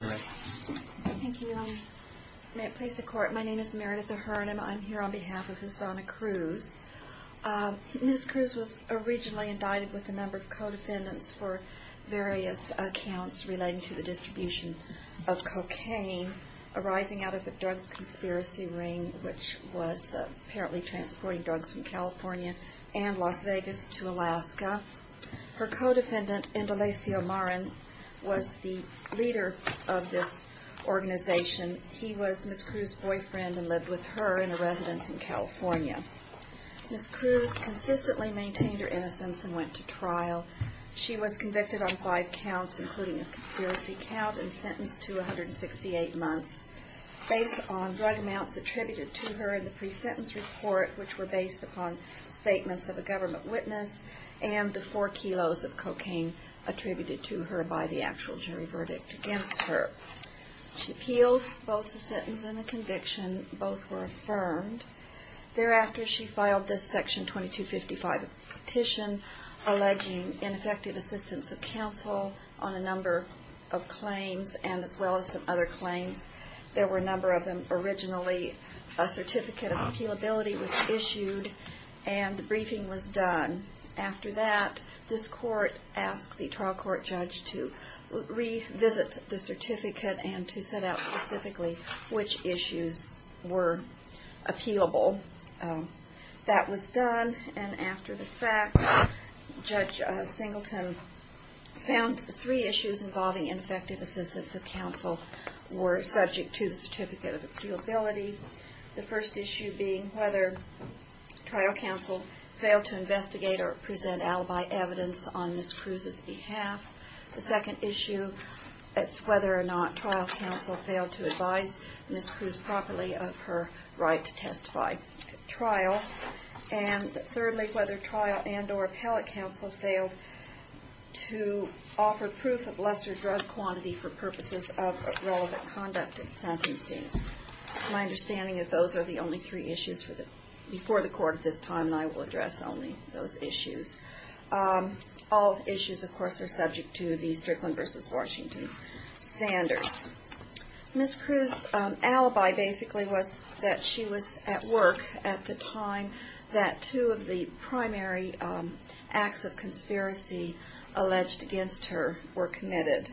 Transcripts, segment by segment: May it please the Court, my name is Meredith Ahern and I'm here on behalf of Husana Cruz. Ms. Cruz was originally indicted with a number of co-defendants for various accounts relating to the distribution of cocaine arising out of a drug conspiracy ring which was apparently transporting drugs from California and Las Vegas to Alaska. Her co-defendant Indalesio Marin was the leader of this organization. He was Ms. Cruz's boyfriend and lived with her in a residence in California. Ms. Cruz consistently maintained her innocence and went to trial. She was convicted on five counts including a conspiracy count and sentenced to 168 months. Based on drug amounts attributed to her in the pre-sentence report which were based upon statements of a government witness and the four kilos of cocaine attributed to her by the actual jury verdict against her. She appealed both the sentence and the conviction. Both were affirmed. Thereafter she filed this section 2255 petition alleging ineffective assistance of counsel on a number of claims and as well as other claims. There were a number of them. Originally a certificate of appealability was issued and a briefing was done. After that this court asked the trial court judge to revisit the certificate and to set out specifically which issues were appealable. That was done and after the fact Judge Singleton found three issues involving ineffective assistance of counsel were subject to the certificate of appealability. The first issue being whether trial counsel failed to investigate or present alibi evidence on Ms. Cruz's behalf. The second issue is whether or not trial counsel failed to advise Ms. Cruz properly of her right to testify at trial. And thirdly whether trial and or appellate counsel failed to offer proof of lesser drug quantity for purposes of relevant conduct at sentencing. My understanding is those are the only three issues before the court at this time and I will address only those issues. All issues of course are subject to the Strickland v. Washington standards. Ms. Cruz's alibi basically was that she was at work at the time that two of the primary acts of conspiracy alleged against her were committed.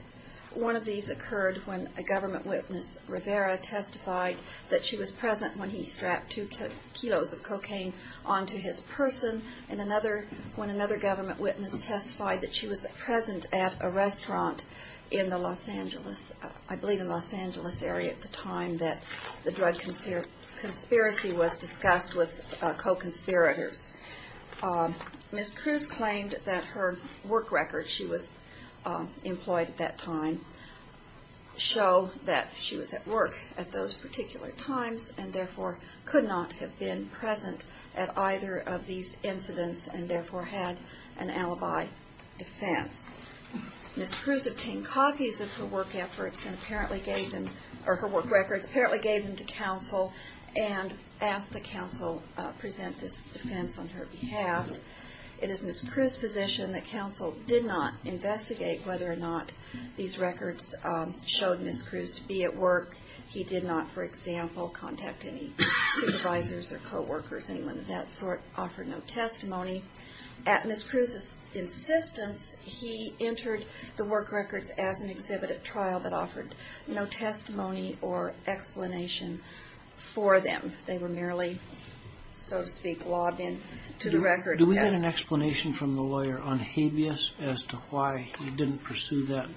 One of these occurred when a government witness, Rivera, testified that she was present when he strapped two kilos of cocaine onto his person and another when another government witness testified that she was present at a restaurant in the Los Angeles, I believe it was. In the Los Angeles area at the time that the drug conspiracy was discussed with co-conspirators. Ms. Cruz claimed that her work record, she was employed at that time, show that she was at work at those particular times and therefore could not have been present at either of these incidents and therefore had an alibi defense. Ms. Cruz obtained copies of her work efforts and apparently gave them, or her work records, apparently gave them to counsel and asked that counsel present this defense on her behalf. It is Ms. Cruz's position that counsel did not investigate whether or not these records showed Ms. Cruz to be at work. He did not, for example, contact any supervisors or co-workers, anyone of that sort, offer no testimony. At Ms. Cruz's insistence, he entered the work records as an exhibited trial that offered no testimony or explanation for them. They were merely, so to speak, logged in to the record. Do we get an explanation from the lawyer on habeas as to why he didn't pursue that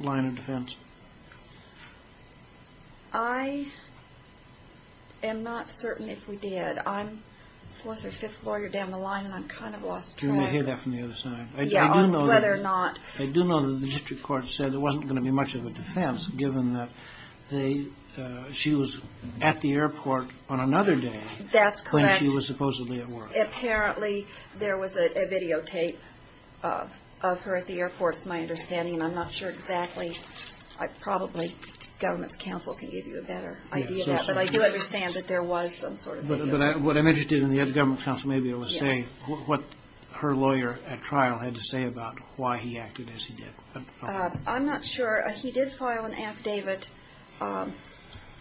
line of defense? I am not certain if we did. I'm the fourth or fifth lawyer down the line and I'm kind of lost track. I do know that the district court said there wasn't going to be much of a defense given that she was at the airport on another day when she was supposedly at work. Apparently there was a videotape of her at the airport is my understanding. I'm not sure exactly. Probably government's counsel can give you a better idea of that. But I do understand that there was some sort of video. But what I'm interested in, the other government counsel may be able to say, what her lawyer at trial had to say about why he acted as he did. I'm not sure. He did file an affidavit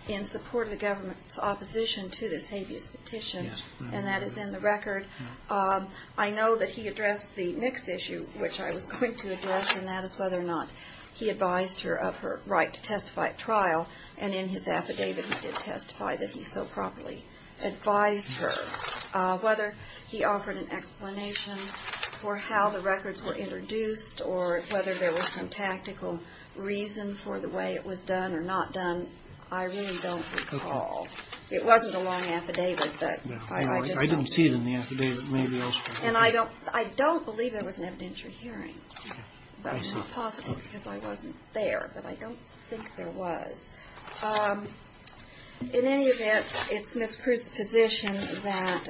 in support of the government's opposition to this habeas petition, and that is in the record. I know that he addressed the next issue, which I was quick to address, and that is whether or not he advised her of her right to testify at trial. And in his affidavit he did testify that he so properly advised her. Whether he offered an explanation for how the records were introduced or whether there was some tactical reason for the way it was done or not done, I really don't recall. It wasn't a long affidavit. I didn't see it in the affidavit. And I don't believe there was an evidentiary hearing. But I'm not positive because I wasn't there. But I don't think there was. In any event, it's Ms. Cruz's position that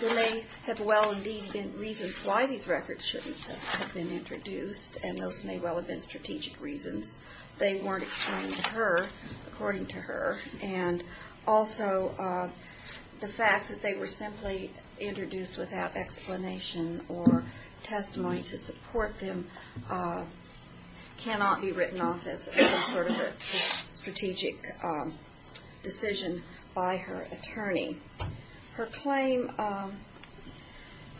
there may have well indeed been reasons why these records shouldn't have been introduced, and those may well have been strategic reasons. They weren't explained to her according to her. And also the fact that they were simply introduced without explanation or testimony to support them cannot be written off as some sort of a strategic decision by her attorney. Her claim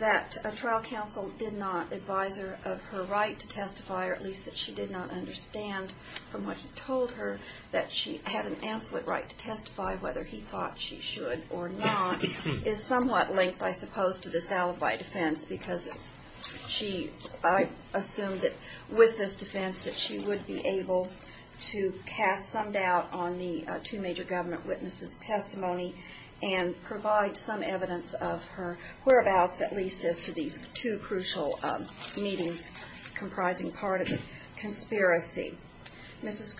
that a trial counsel did not advise her of her right to testify, or at least that she did not understand from what he told her that she had an absolute right to testify, whether he thought she should or not, is somewhat linked, I suppose, to this alibi defense because I assume that with this defense that she would be able to cast some doubt on the two major government witnesses' testimony and provide some evidence of her whereabouts at least as to these two crucial meetings comprising part of the conspiracy. Ms.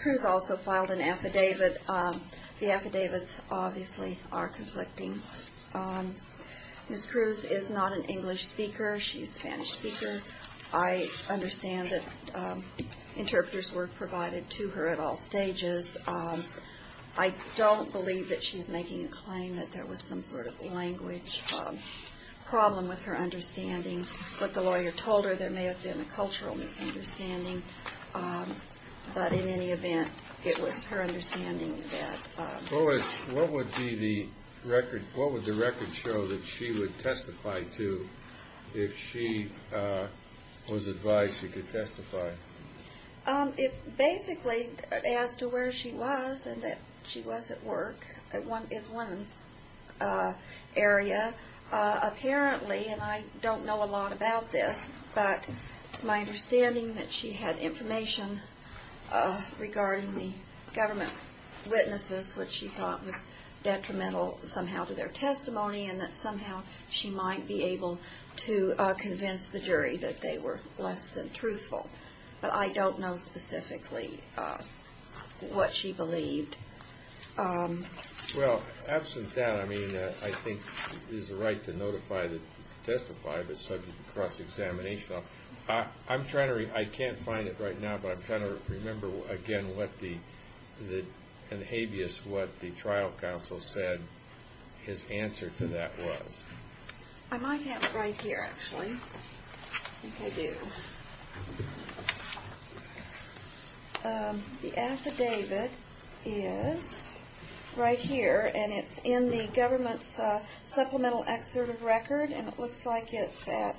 Cruz also filed an affidavit. The affidavits obviously are conflicting. Ms. Cruz is not an English speaker. She's a Spanish speaker. I understand that interpreters were provided to her at all stages. I don't believe that she's making a claim that there was some sort of language problem with her understanding. What the lawyer told her, there may have been a cultural misunderstanding. But in any event, it was her understanding that- What would the record show that she would testify to if she was advised she could testify? Basically as to where she was and that she was at work is one area. Apparently, and I don't know a lot about this, but it's my understanding that she had information regarding the government witnesses, which she thought was detrimental somehow to their testimony and that somehow she might be able to convince the jury that they were less than truthful. But I don't know specifically what she believed. Well, absent that, I mean, I think it is the right to notify, to testify if it's subject to cross-examination. I'm trying to- I can't find it right now, but I'm trying to remember again what the- and habeas what the trial counsel said his answer to that was. I might have it right here, actually. I think I do. The affidavit is right here, and it's in the government's supplemental excerpt of record, and it looks like it's at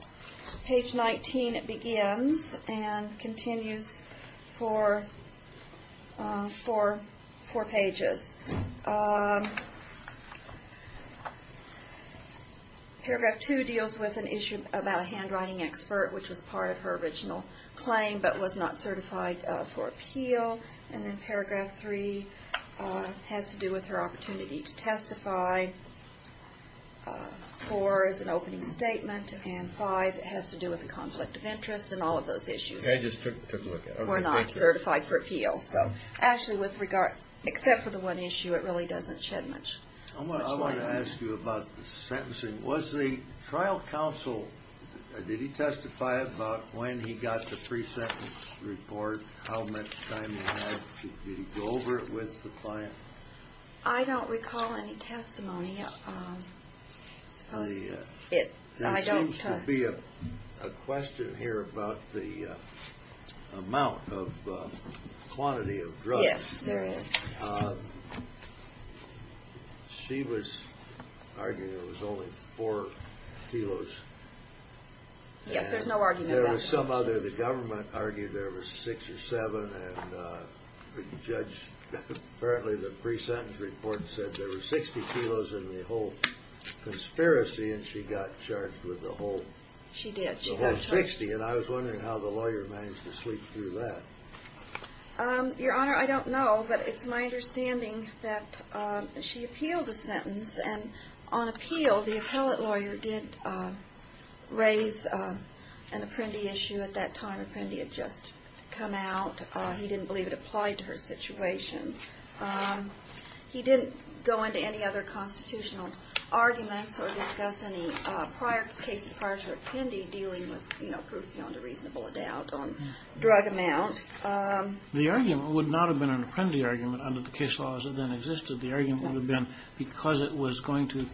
page 19. It begins and continues for four pages. Paragraph two deals with an issue about a handwriting expert, which was part of her original claim but was not certified for appeal. And then paragraph three has to do with her opportunity to testify. Four is an opening statement, and five has to do with a conflict of interest and all of those issues. I just took a look at it. Were not certified for appeal. So, actually, with regard- except for the one issue, it really doesn't shed much light on it. I want to ask you about the sentencing. Was the trial counsel- did he testify about when he got the pre-sentence report, how much time he had? Did he go over it with the client? I don't recall any testimony. There seems to be a question here about the amount of quantity of drugs. Yes, there is. She was arguing there was only four kilos. Yes, there's no argument about that. There was some other- the government argued there was six or seven, and the judge- apparently the pre-sentence report said there were 60 kilos in the whole conspiracy, and she got charged with the whole- She did. The whole 60, and I was wondering how the lawyer managed to sleep through that. Your Honor, I don't know, but it's my understanding that she appealed the sentence, and on appeal, the appellate lawyer did raise an Apprendi issue at that time. Apprendi had just come out. He didn't believe it applied to her situation. He didn't go into any other constitutional arguments or discuss any prior cases prior to Apprendi dealing with proof beyond a reasonable doubt on drug amount. The argument would not have been an Apprendi argument under the case laws that then existed. The argument would have been because it was going to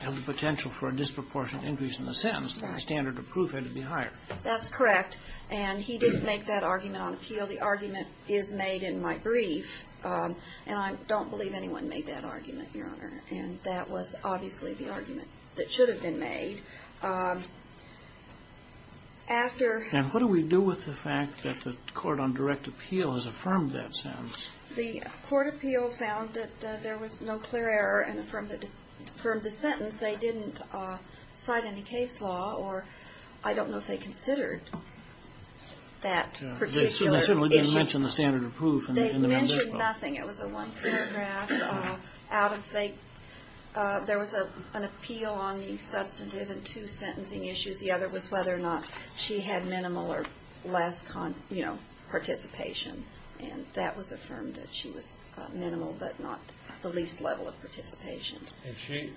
have the potential for a disproportionate increase in the sentence, the standard of proof had to be higher. That's correct, and he didn't make that argument on appeal. The argument is made in my brief, and I don't believe anyone made that argument, Your Honor, and that was obviously the argument that should have been made. After- And what do we do with the fact that the court on direct appeal has affirmed that sentence? The court appeal found that there was no clear error and affirmed the sentence. They didn't cite any case law, or I don't know if they considered that particular issue. They certainly didn't mention the standard of proof in the rendition. They mentioned nothing. It was a one-paragraph. There was an appeal on the substantive and two sentencing issues. The other was whether or not she had minimal or less participation, and that was affirmed that she was minimal but not the least level of participation. And she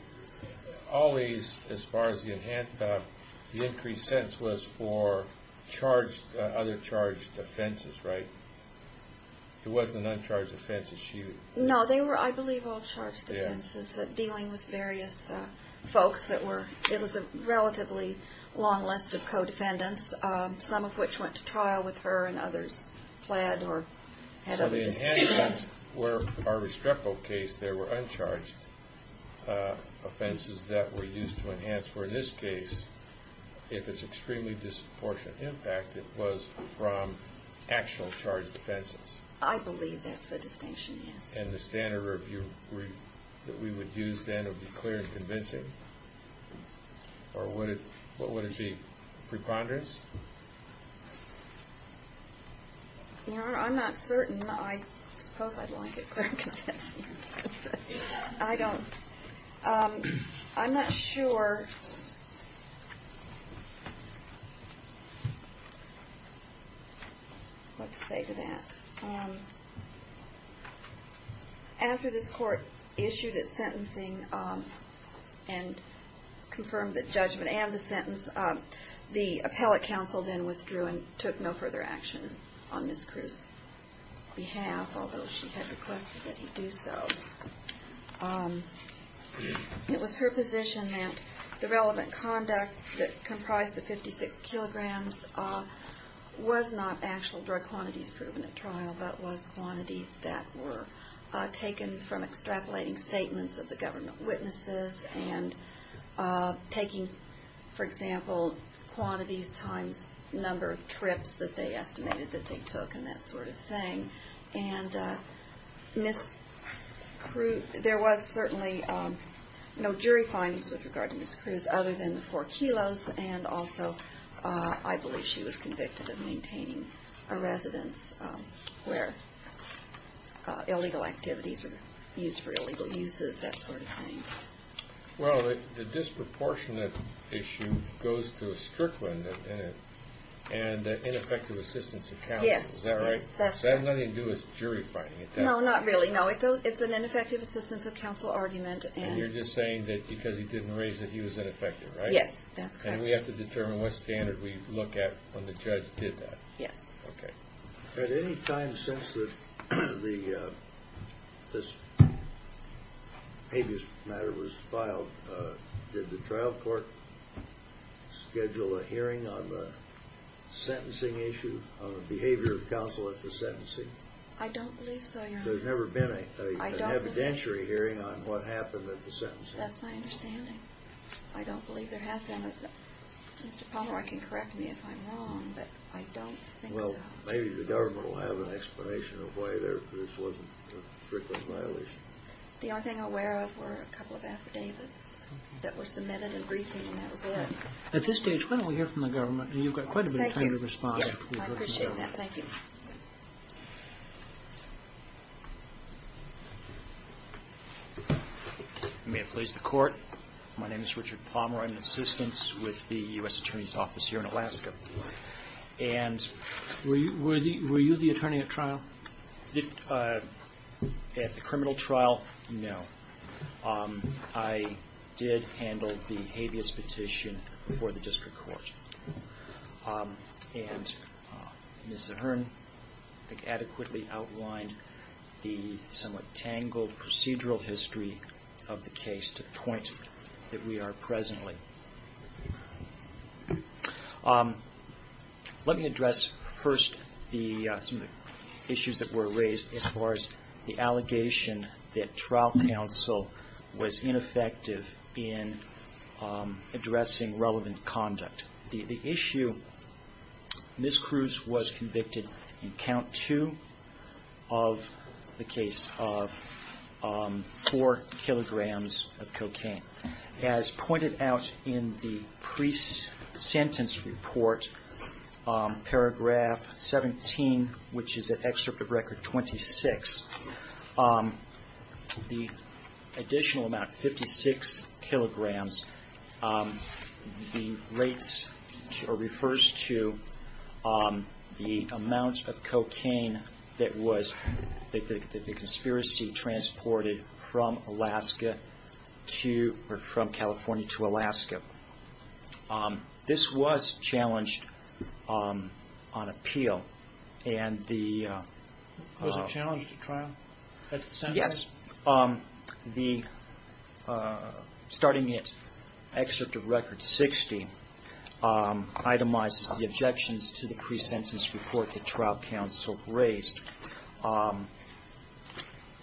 always, as far as you hint, the increased sentence was for other charged offenses, right? It wasn't an uncharged offense that she- No, they were, I believe, all charged offenses dealing with various folks that were- A long list of co-defendants, some of which went to trial with her and others pled or had other- So the enhancements were, in our Restrepo case, there were uncharged offenses that were used to enhance, where in this case, if it's extremely disproportionate impact, it was from actual charged offenses. I believe that's the distinction, yes. And the standard review that we would use then would be clear and convincing? Or would it be preponderance? Your Honor, I'm not certain. I suppose I'd like it clear and convincing. I don't- I'm not sure what to say to that. After this court issued its sentencing and confirmed the judgment and the sentence, the appellate counsel then withdrew and took no further action on Ms. Cruz's behalf, although she had requested that he do so. It was her position that the relevant conduct that comprised the 56 kilograms was not actual drug quantities proven at trial, but was quantities that were taken from extrapolating statements of the government witnesses and taking, for example, quantities times number of trips that they estimated that they took and that sort of thing. And Ms. Cruz- There was certainly no jury findings with regard to Ms. Cruz other than the four kilos and also I believe she was convicted of maintaining a residence where illegal activities were used for illegal uses, that sort of thing. Well, the disproportionate issue goes to a strickland and ineffective assistance of counsel. Yes. Is that right? Yes, that's correct. Does that have nothing to do with jury finding at that point? No, not really. No, it's an ineffective assistance of counsel argument and- And you're just saying that because he didn't raise it, he was ineffective, right? Yes, that's correct. And we have to determine what standard we look at when the judge did that? Yes. Okay. At any time since this habeas matter was filed, did the trial court schedule a hearing on the sentencing issue, on the behavior of counsel at the sentencing? I don't believe so, Your Honor. There's never been an evidentiary hearing on what happened at the sentencing? That's my understanding. I don't believe there has been. Mr. Pomeroy can correct me if I'm wrong, but I don't think so. Well, maybe the government will have an explanation of why this wasn't a strickland violation. The only thing I'm aware of were a couple of affidavits that were submitted in briefing, and that was it. At this stage, why don't we hear from the government? You've got quite a bit of time to respond. Thank you. I appreciate that. Thank you. You may have placed the court. My name is Richard Pomeroy. I'm an assistant with the U.S. Attorney's Office here in Alaska. Were you the attorney at trial? At the criminal trial, no. I did handle the habeas petition for the district court. And Ms. Zahern, I think, adequately outlined the somewhat tangled procedural history of the case to the point that we are presently. Let me address first some of the issues that were raised as far as the allegation that trial counsel was ineffective in addressing relevant conduct. The issue, Ms. Cruz was convicted in count two of the case of four kilograms of cocaine. As pointed out in the pre-sentence report, paragraph 17, which is an excerpt of Record 26, the additional amount, 56 kilograms, refers to the amount of cocaine that the conspiracy transported from California to Alaska. This was challenged on appeal. Yes. Starting at excerpt of Record 60, itemizes the objections to the pre-sentence report that trial counsel raised,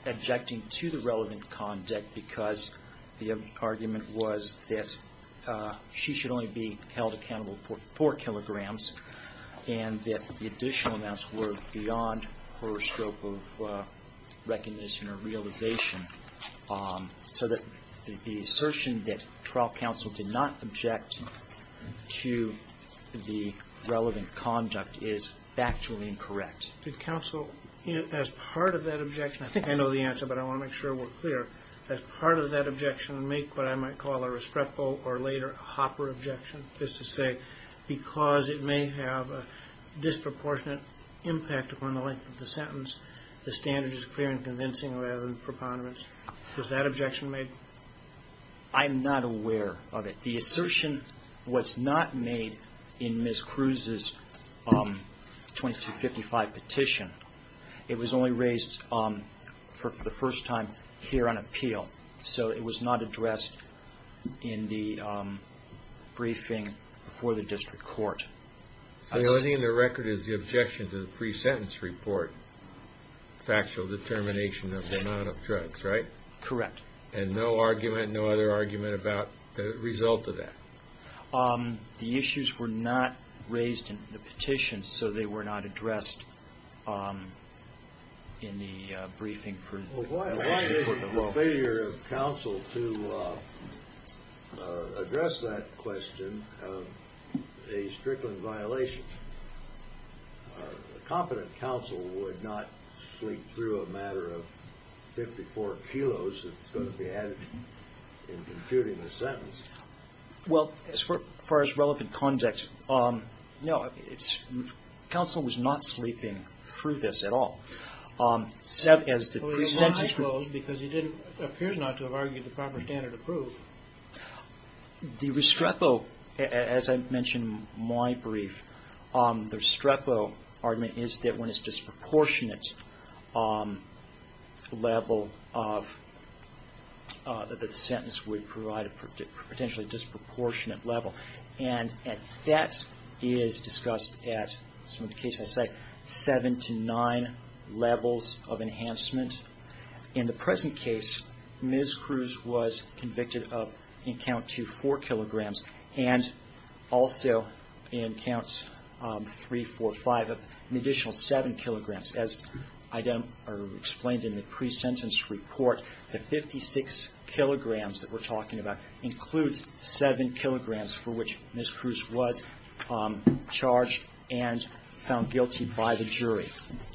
objecting to the relevant conduct because the argument was that she should only be held accountable for four kilograms and that the additional amounts were beyond her scope of recognition or realization, so that the assertion that trial counsel did not object to the relevant conduct is factually incorrect. Did counsel, as part of that objection, I think I know the answer, but I want to make sure we're clear, as part of that objection make what I might call a Restrepo or later a Hopper objection, just to say because it may have a disproportionate impact upon the length of the sentence, the standard is clear and convincing rather than preponderance. Was that objection made? I'm not aware of it. The assertion was not made in Ms. Cruz's 2255 petition. It was only raised for the first time here on appeal, so it was not addressed in the briefing before the district court. The only thing in the record is the objection to the pre-sentence report, factual determination of the amount of drugs, right? Correct. And no argument, no other argument about the result of that? The issues were not raised in the petition, so they were not addressed in the briefing. Why is it a failure of counsel to address that question of a Strickland violation? A competent counsel would not sleep through a matter of 54 kilos that's going to be added in computing the sentence. Well, as far as relevant context, no, counsel was not sleeping through this at all. Well, he might have closed because he appears not to have argued the proper standard of proof. The Restrepo, as I mentioned in my brief, the Restrepo argument is that when it's disproportionate level of that the sentence would provide a potentially disproportionate level. And that is discussed at, some of the cases I cite, seven to nine levels of enhancement. In the present case, Ms. Cruz was convicted of, in count two, four kilograms. And also in count three, four, five, an additional seven kilograms. As I explained in the pre-sentence report, the 56 kilograms that we're talking about includes seven kilograms for which Ms. Cruz was charged and found guilty by the jury.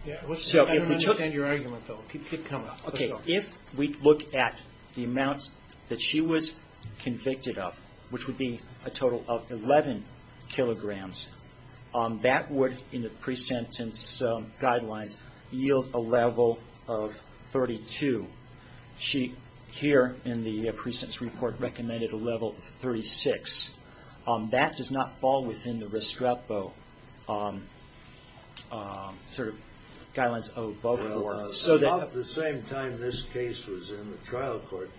I don't understand your argument, though. Keep coming. Okay. If we look at the amount that she was convicted of, which would be a total of 11 kilograms, that would, in the pre-sentence guidelines, yield a level of 32. She, here in the pre-sentence report, recommended a level of 36. That does not fall within the Restrepo sort of guidelines above four. About the same time this case was in the trial court,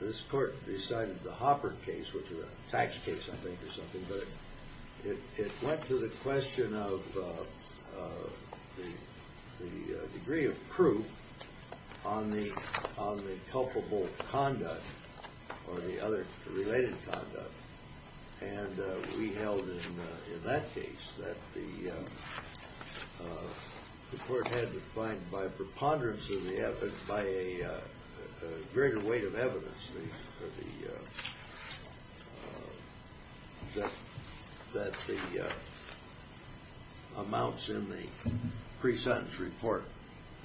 this court decided the Hopper case, which was a tax case, I think, or something, but it went to the question of the degree of proof on the culpable conduct or the other related conduct. And we held in that case that the court had to find by preponderance of the evidence, by a greater weight of evidence, that the amounts in the pre-sentence report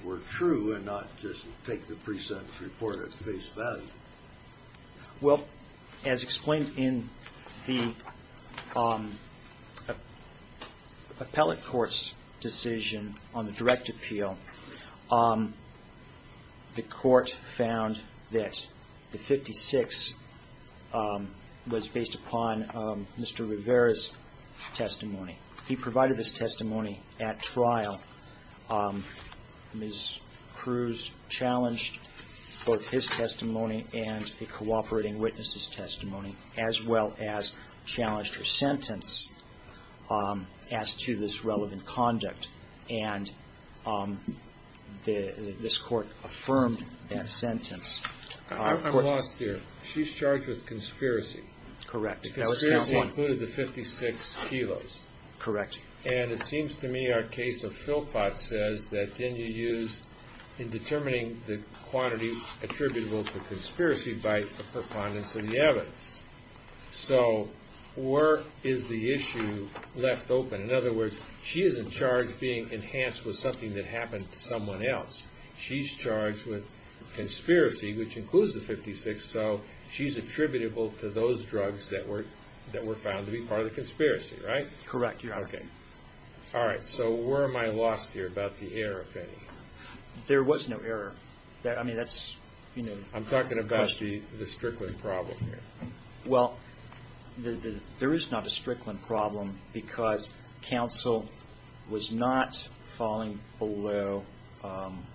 were true and not just take the pre-sentence report at face value. Well, as explained in the appellate court's decision on the direct appeal, the court found that the 56 was based upon Mr. Rivera's testimony. He provided this testimony at trial. Ms. Cruz challenged both his testimony and the cooperating witness' testimony, as well as challenged her sentence as to this relevant conduct. And this court affirmed that sentence. I'm lost here. She's charged with conspiracy. Correct. Conspiracy included the 56 kilos. Correct. And it seems to me our case of Philpott says that then you use in determining the quantity attributable to conspiracy by a preponderance of the evidence. So where is the issue left open? In other words, she isn't charged being enhanced with something that happened to someone else. She's charged with conspiracy, which includes the 56, so she's attributable to those drugs that were found to be part of the conspiracy, right? Correct, Your Honor. Okay. All right. So where am I lost here about the error, if any? There was no error. I mean, that's, you know. I'm talking about the Strickland problem here. Well, there is not a Strickland problem because counsel was not falling below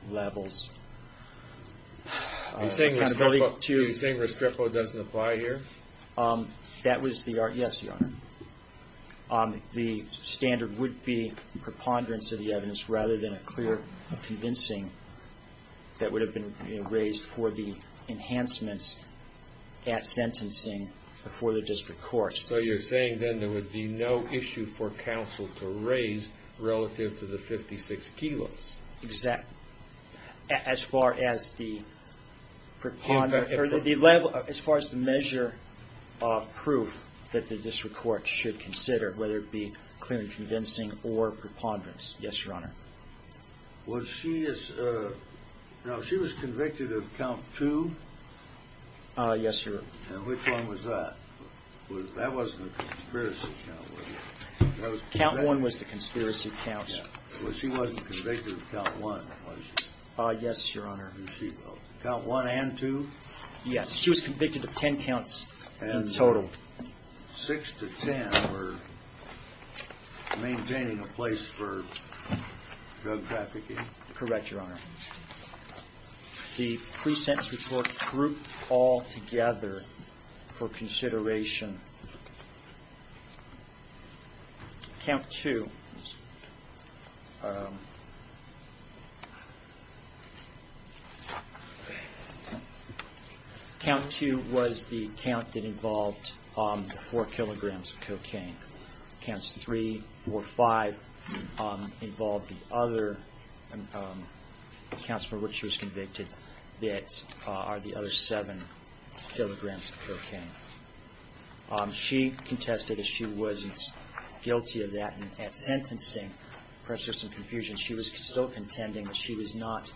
levels. You're saying Restrepo doesn't apply here? Yes, Your Honor. The standard would be preponderance of the evidence rather than a clear convincing that would have been raised for the enhancements at sentencing before the district court. So you're saying then there would be no issue for counsel to raise relative to the 56 kilos. As far as the measure of proof that the district court should consider, whether it be clear and convincing or preponderance. Yes, Your Honor. Now, she was convicted of count two? Yes, Your Honor. And which one was that? That wasn't a conspiracy count, was it? Count one was the conspiracy count. Well, she wasn't convicted of count one, was she? Yes, Your Honor. Count one and two? Yes, she was convicted of ten counts in total. And six to ten were maintaining a place for drug trafficking? Correct, Your Honor. The pre-sentence report grouped all together for consideration. Count two was the count that involved four kilograms of cocaine. Counts three, four, five involved the other counts for which she was convicted that are the other seven kilograms of cocaine. She contested that she wasn't guilty of that. And at sentencing, perhaps there was some confusion, she was still contending that she was not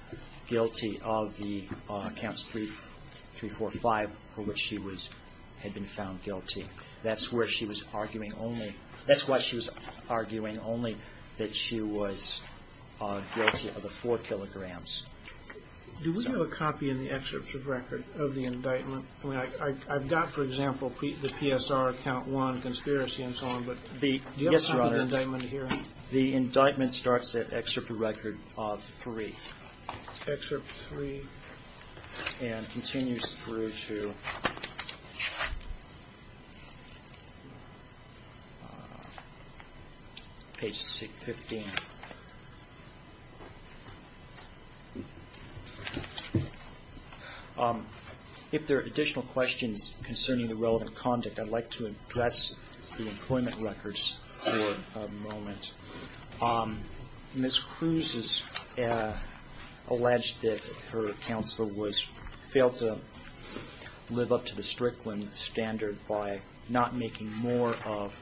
guilty of the counts three, four, five for which she had been found guilty. That's why she was arguing only that she was guilty of the four kilograms. Do we have a copy in the excerpt of record of the indictment? I've got, for example, the PSR count one conspiracy and so on. Yes, Your Honor. Do you have a copy of the indictment here? The indictment starts at excerpt of record of three. Excerpt three. And continues through to page 15. If there are additional questions concerning the relevant conduct, I'd like to address the employment records for a moment. Ms. Cruz has alleged that her counselor failed to live up to the Strickland standard by not making more of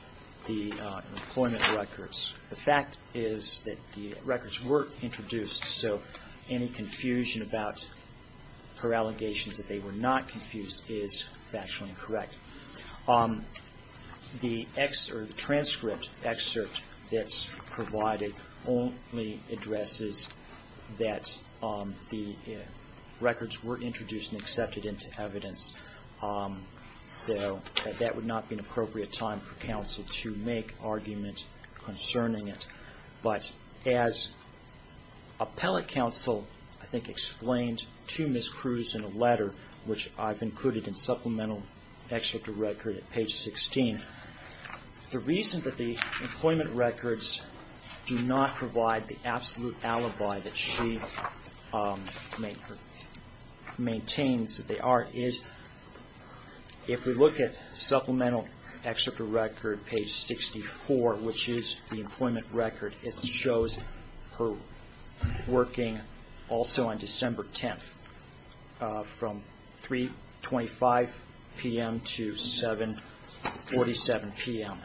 the employment records. The fact is that the records were introduced, so any confusion about her allegations that they were not confused is factually incorrect. The transcript excerpt that's provided only addresses that the records were introduced and accepted into evidence. So that would not be an appropriate time for counsel to make argument concerning it. But as appellate counsel, I think, explained to Ms. Cruz in a letter, which I've included in supplemental excerpt of record at page 16, the reason that the employment records do not provide the absolute alibi that she maintains that they are is if we look at supplemental excerpt of record page 64, which is the employment record, it shows her working also on December 10th from 3.25 p.m. to 7.47 p.m.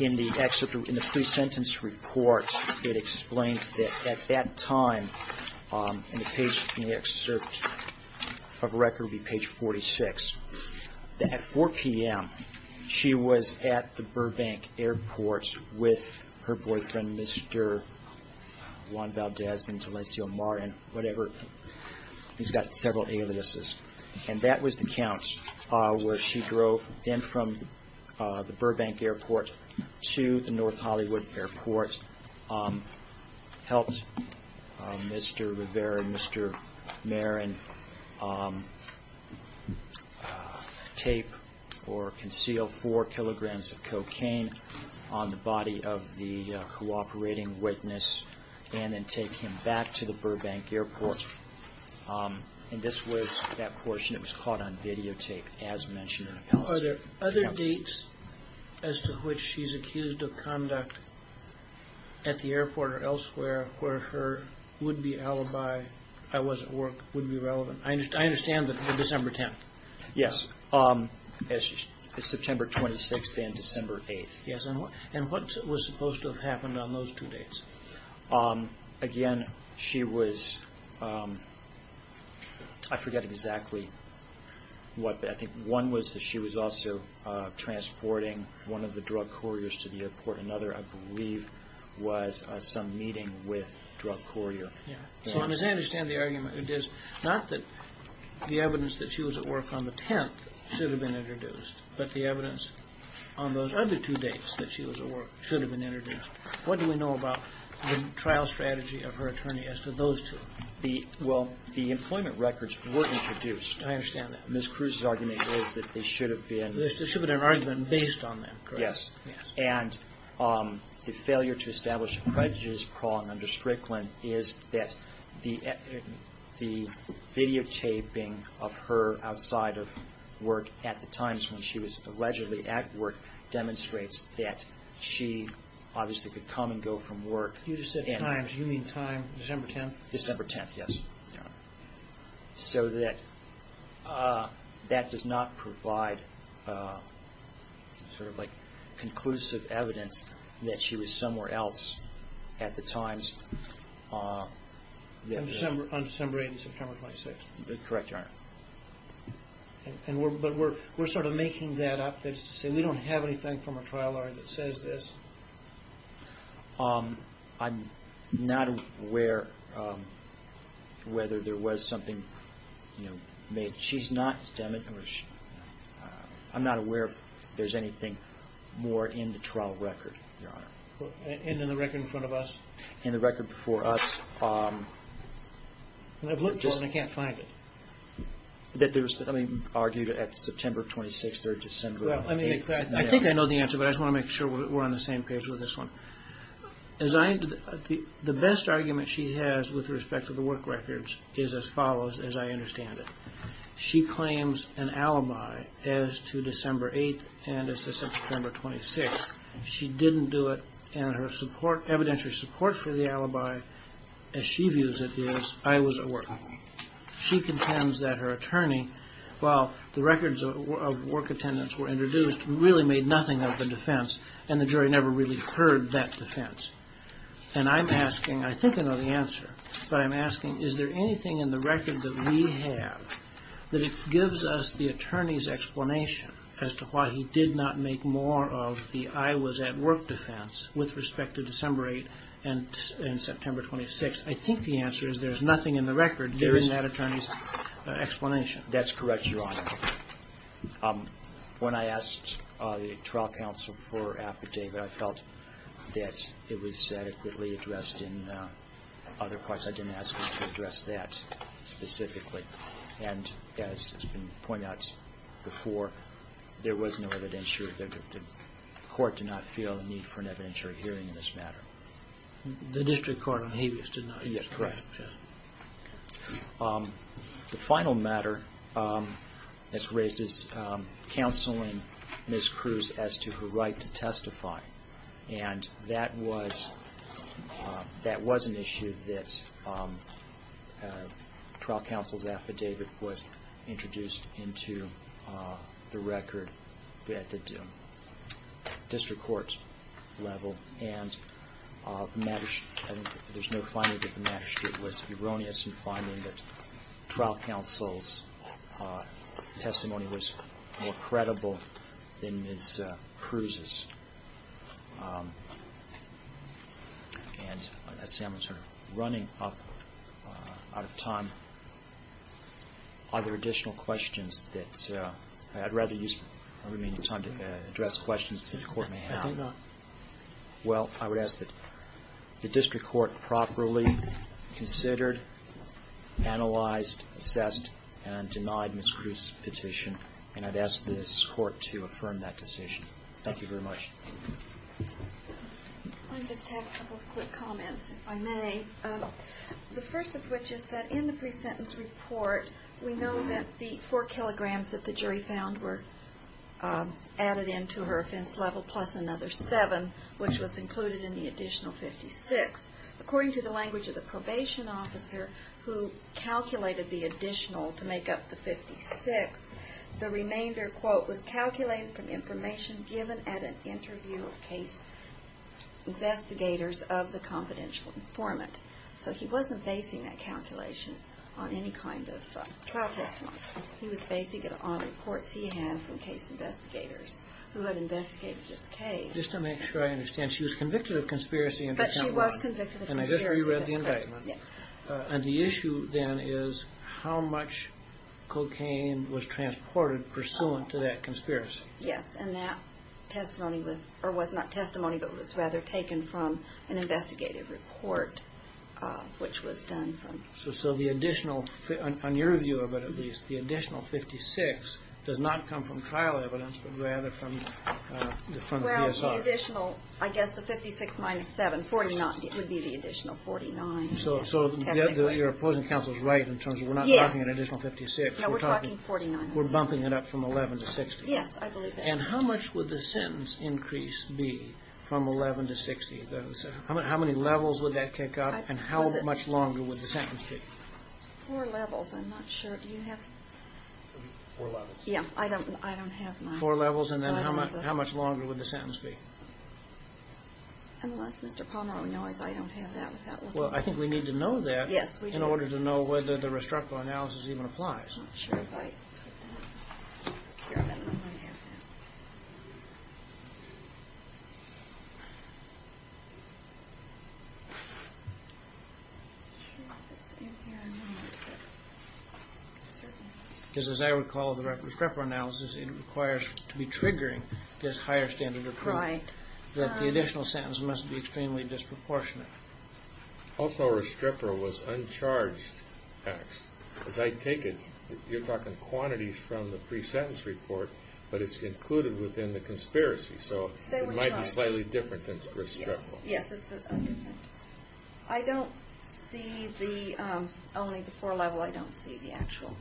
In the pre-sentence report, it explains that at that time, in the excerpt of record would be page 46, that at 4 p.m. she was at the Burbank airport with her boyfriend, Mr. Juan Valdez, and Jalencio Martin, whatever. He's got several aliases. And that was the count where she drove then from the Burbank airport to the North Hollywood airport, helped Mr. Rivera and Mr. Marin tape or conceal four kilograms of cocaine on the body of the cooperating witness and then take him back to the Burbank airport. And this was that portion that was caught on videotape as mentioned. Are there other dates as to which she's accused of conduct at the airport or elsewhere where her would-be alibi, I was at work, would be relevant? I understand the December 10th. Yes, September 26th and December 8th. Again, she was, I forget exactly what. I think one was that she was also transporting one of the drug couriers to the airport. Another, I believe, was some meeting with drug courier. So I understand the argument. It is not that the evidence that she was at work on the 10th should have been introduced, but the evidence on those other two dates that she was at work should have been introduced. What do we know about the trial strategy of her attorney as to those two? Well, the employment records were introduced. I understand that. Ms. Cruz's argument is that they should have been. There's a dissipative argument based on that. Yes. And the failure to establish a prejudice prong under Strickland is that the videotaping of her outside of work at the times when she was allegedly at work demonstrates that she obviously could come and go from work. You just said times. You mean time, December 10th? December 10th, yes. So that does not provide sort of like conclusive evidence that she was somewhere else at the times. Correct, Your Honor. But we're sort of making that up. That's to say we don't have anything from her trial that says this. I'm not aware whether there was something made. I'm not aware if there's anything more in the trial record, Your Honor. And in the record in front of us? In the record before us. And I've looked for it and I can't find it. That there was something argued at September 26th or December 8th. I think I know the answer, but I just want to make sure we're on the same page with this one. The best argument she has with respect to the work records is as follows, as I understand it. She claims an alibi as to December 8th and as to September 26th. She didn't do it and her evidentiary support for the alibi, as she views it, is I was at work. She contends that her attorney, while the records of work attendance were introduced, really made nothing of the defense and the jury never really heard that defense. And I'm asking, I think I know the answer, but I'm asking is there anything in the record that we have that it gives us the attorney's explanation as to why he did not make more of the I was at work defense with respect to December 8th and September 26th? I think the answer is there's nothing in the record during that attorney's explanation. That's correct, Your Honor. When I asked the trial counsel for affidavit, I felt that it was adequately addressed in other parts. I didn't ask them to address that specifically. And as has been pointed out before, there was no evidentiary. The court did not feel the need for an evidentiary hearing in this matter. The district court on habeas did not. Yes, correct. The final matter that's raised is counseling Ms. Cruz as to her right to testify. And that was an issue that trial counsel's affidavit was introduced into the record at the district court level. And there's no finding that the magistrate was erroneous in finding that trial counsel's testimony was more credible than Ms. Cruz's. And I see I'm sort of running up out of time. Are there additional questions that I'd rather use the remaining time to address questions that the court may have? I think not. Well, I would ask that the district court properly considered, analyzed, assessed, and denied Ms. Cruz's petition. And I'd ask this court to affirm that decision. Thank you very much. I just have a couple of quick comments, if I may. The first of which is that in the pre-sentence report, we know that the 4 kilograms that the jury found were added into her offense level plus another 7, which was included in the additional 56. According to the language of the probation officer who calculated the additional to make up the 56, the remainder, quote, was calculated from information given at an interview of case investigators of the confidential informant. So he wasn't basing that calculation on any kind of trial testimony. He was basing it on reports he had from case investigators who had investigated this case. Just to make sure I understand, she was convicted of conspiracy in her testimony. But she was convicted of conspiracy. And I guess you read the indictment. Yes. And the issue then is how much cocaine was transported pursuant to that conspiracy. Yes, and that testimony was, or was not testimony, but was rather taken from an investigative report, which was done from. So the additional, on your view of it at least, the additional 56 does not come from trial evidence, but rather from the front of DSR. Well, the additional, I guess the 56 minus 7, 49, would be the additional 49. So your opposing counsel is right in terms of we're not talking an additional 56. No, we're talking 49. We're bumping it up from 11 to 60. Yes, I believe that. And how much would the sentence increase be from 11 to 60? How many levels would that kick up, and how much longer would the sentence be? Four levels. I'm not sure. Do you have? Four levels. Yeah, I don't have mine. Four levels, and then how much longer would the sentence be? Unless Mr. Palmer knows, I don't have that with that. Well, I think we need to know that in order to know whether the restructural analysis even applies. I'm not sure if I have that. I'm not sure if it's in here or not, but certainly. Because as I recall, the restructural analysis, it requires to be triggering this higher standard of proof. Right. The additional sentence must be extremely disproportionate. Also, restructural was uncharged text. As I take it, you're talking quantities from the pre-sentence report, but it's included within the conspiracy, so it might be slightly different than restructural. Yes, it's a different. I don't see the, only the four level, I don't see the actual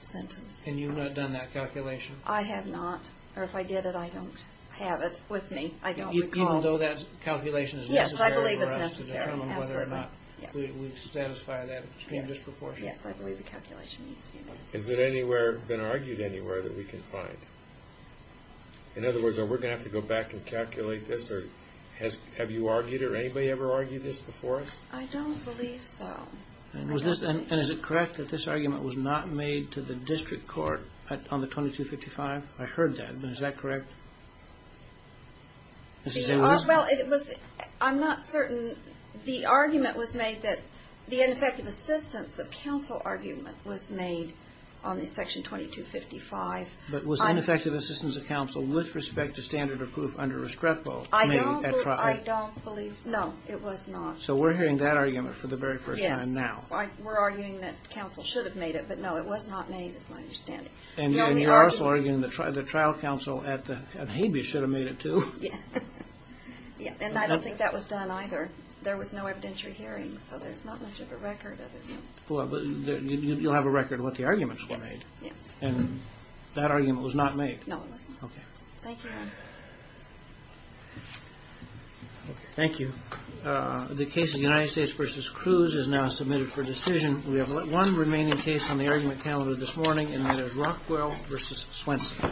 sentence. And you've not done that calculation? I have not. Or if I did it, I don't have it with me. I don't recall. Even though that calculation is necessary for us to determine whether or not we've satisfied that disproportionate? Yes, I believe the calculation needs to be made. Has it anywhere been argued anywhere that we can find? In other words, are we going to have to go back and calculate this, or have you argued it, or anybody ever argued this before? I don't believe so. And is it correct that this argument was not made to the district court on the 2255? I heard that. Is that correct? Well, it was, I'm not certain. The argument was made that the ineffective assistance of counsel argument was made on the section 2255. But was ineffective assistance of counsel with respect to standard of proof under Restrepo made at trial? I don't believe so. No, it was not. So we're hearing that argument for the very first time now. Yes. We're arguing that counsel should have made it, but no, it was not made is my understanding. And you're also arguing that the trial counsel at Habeas should have made it, too. Yes. And I don't think that was done, either. There was no evidentiary hearing, so there's not much of a record of it. Well, you'll have a record of what the arguments were made. Yes. And that argument was not made? No, it was not. Okay. Thank you. Thank you. The case of United States v. Cruz is now submitted for decision. We have one remaining case on the argument calendar this morning, and that is Rockwell v. Swenson.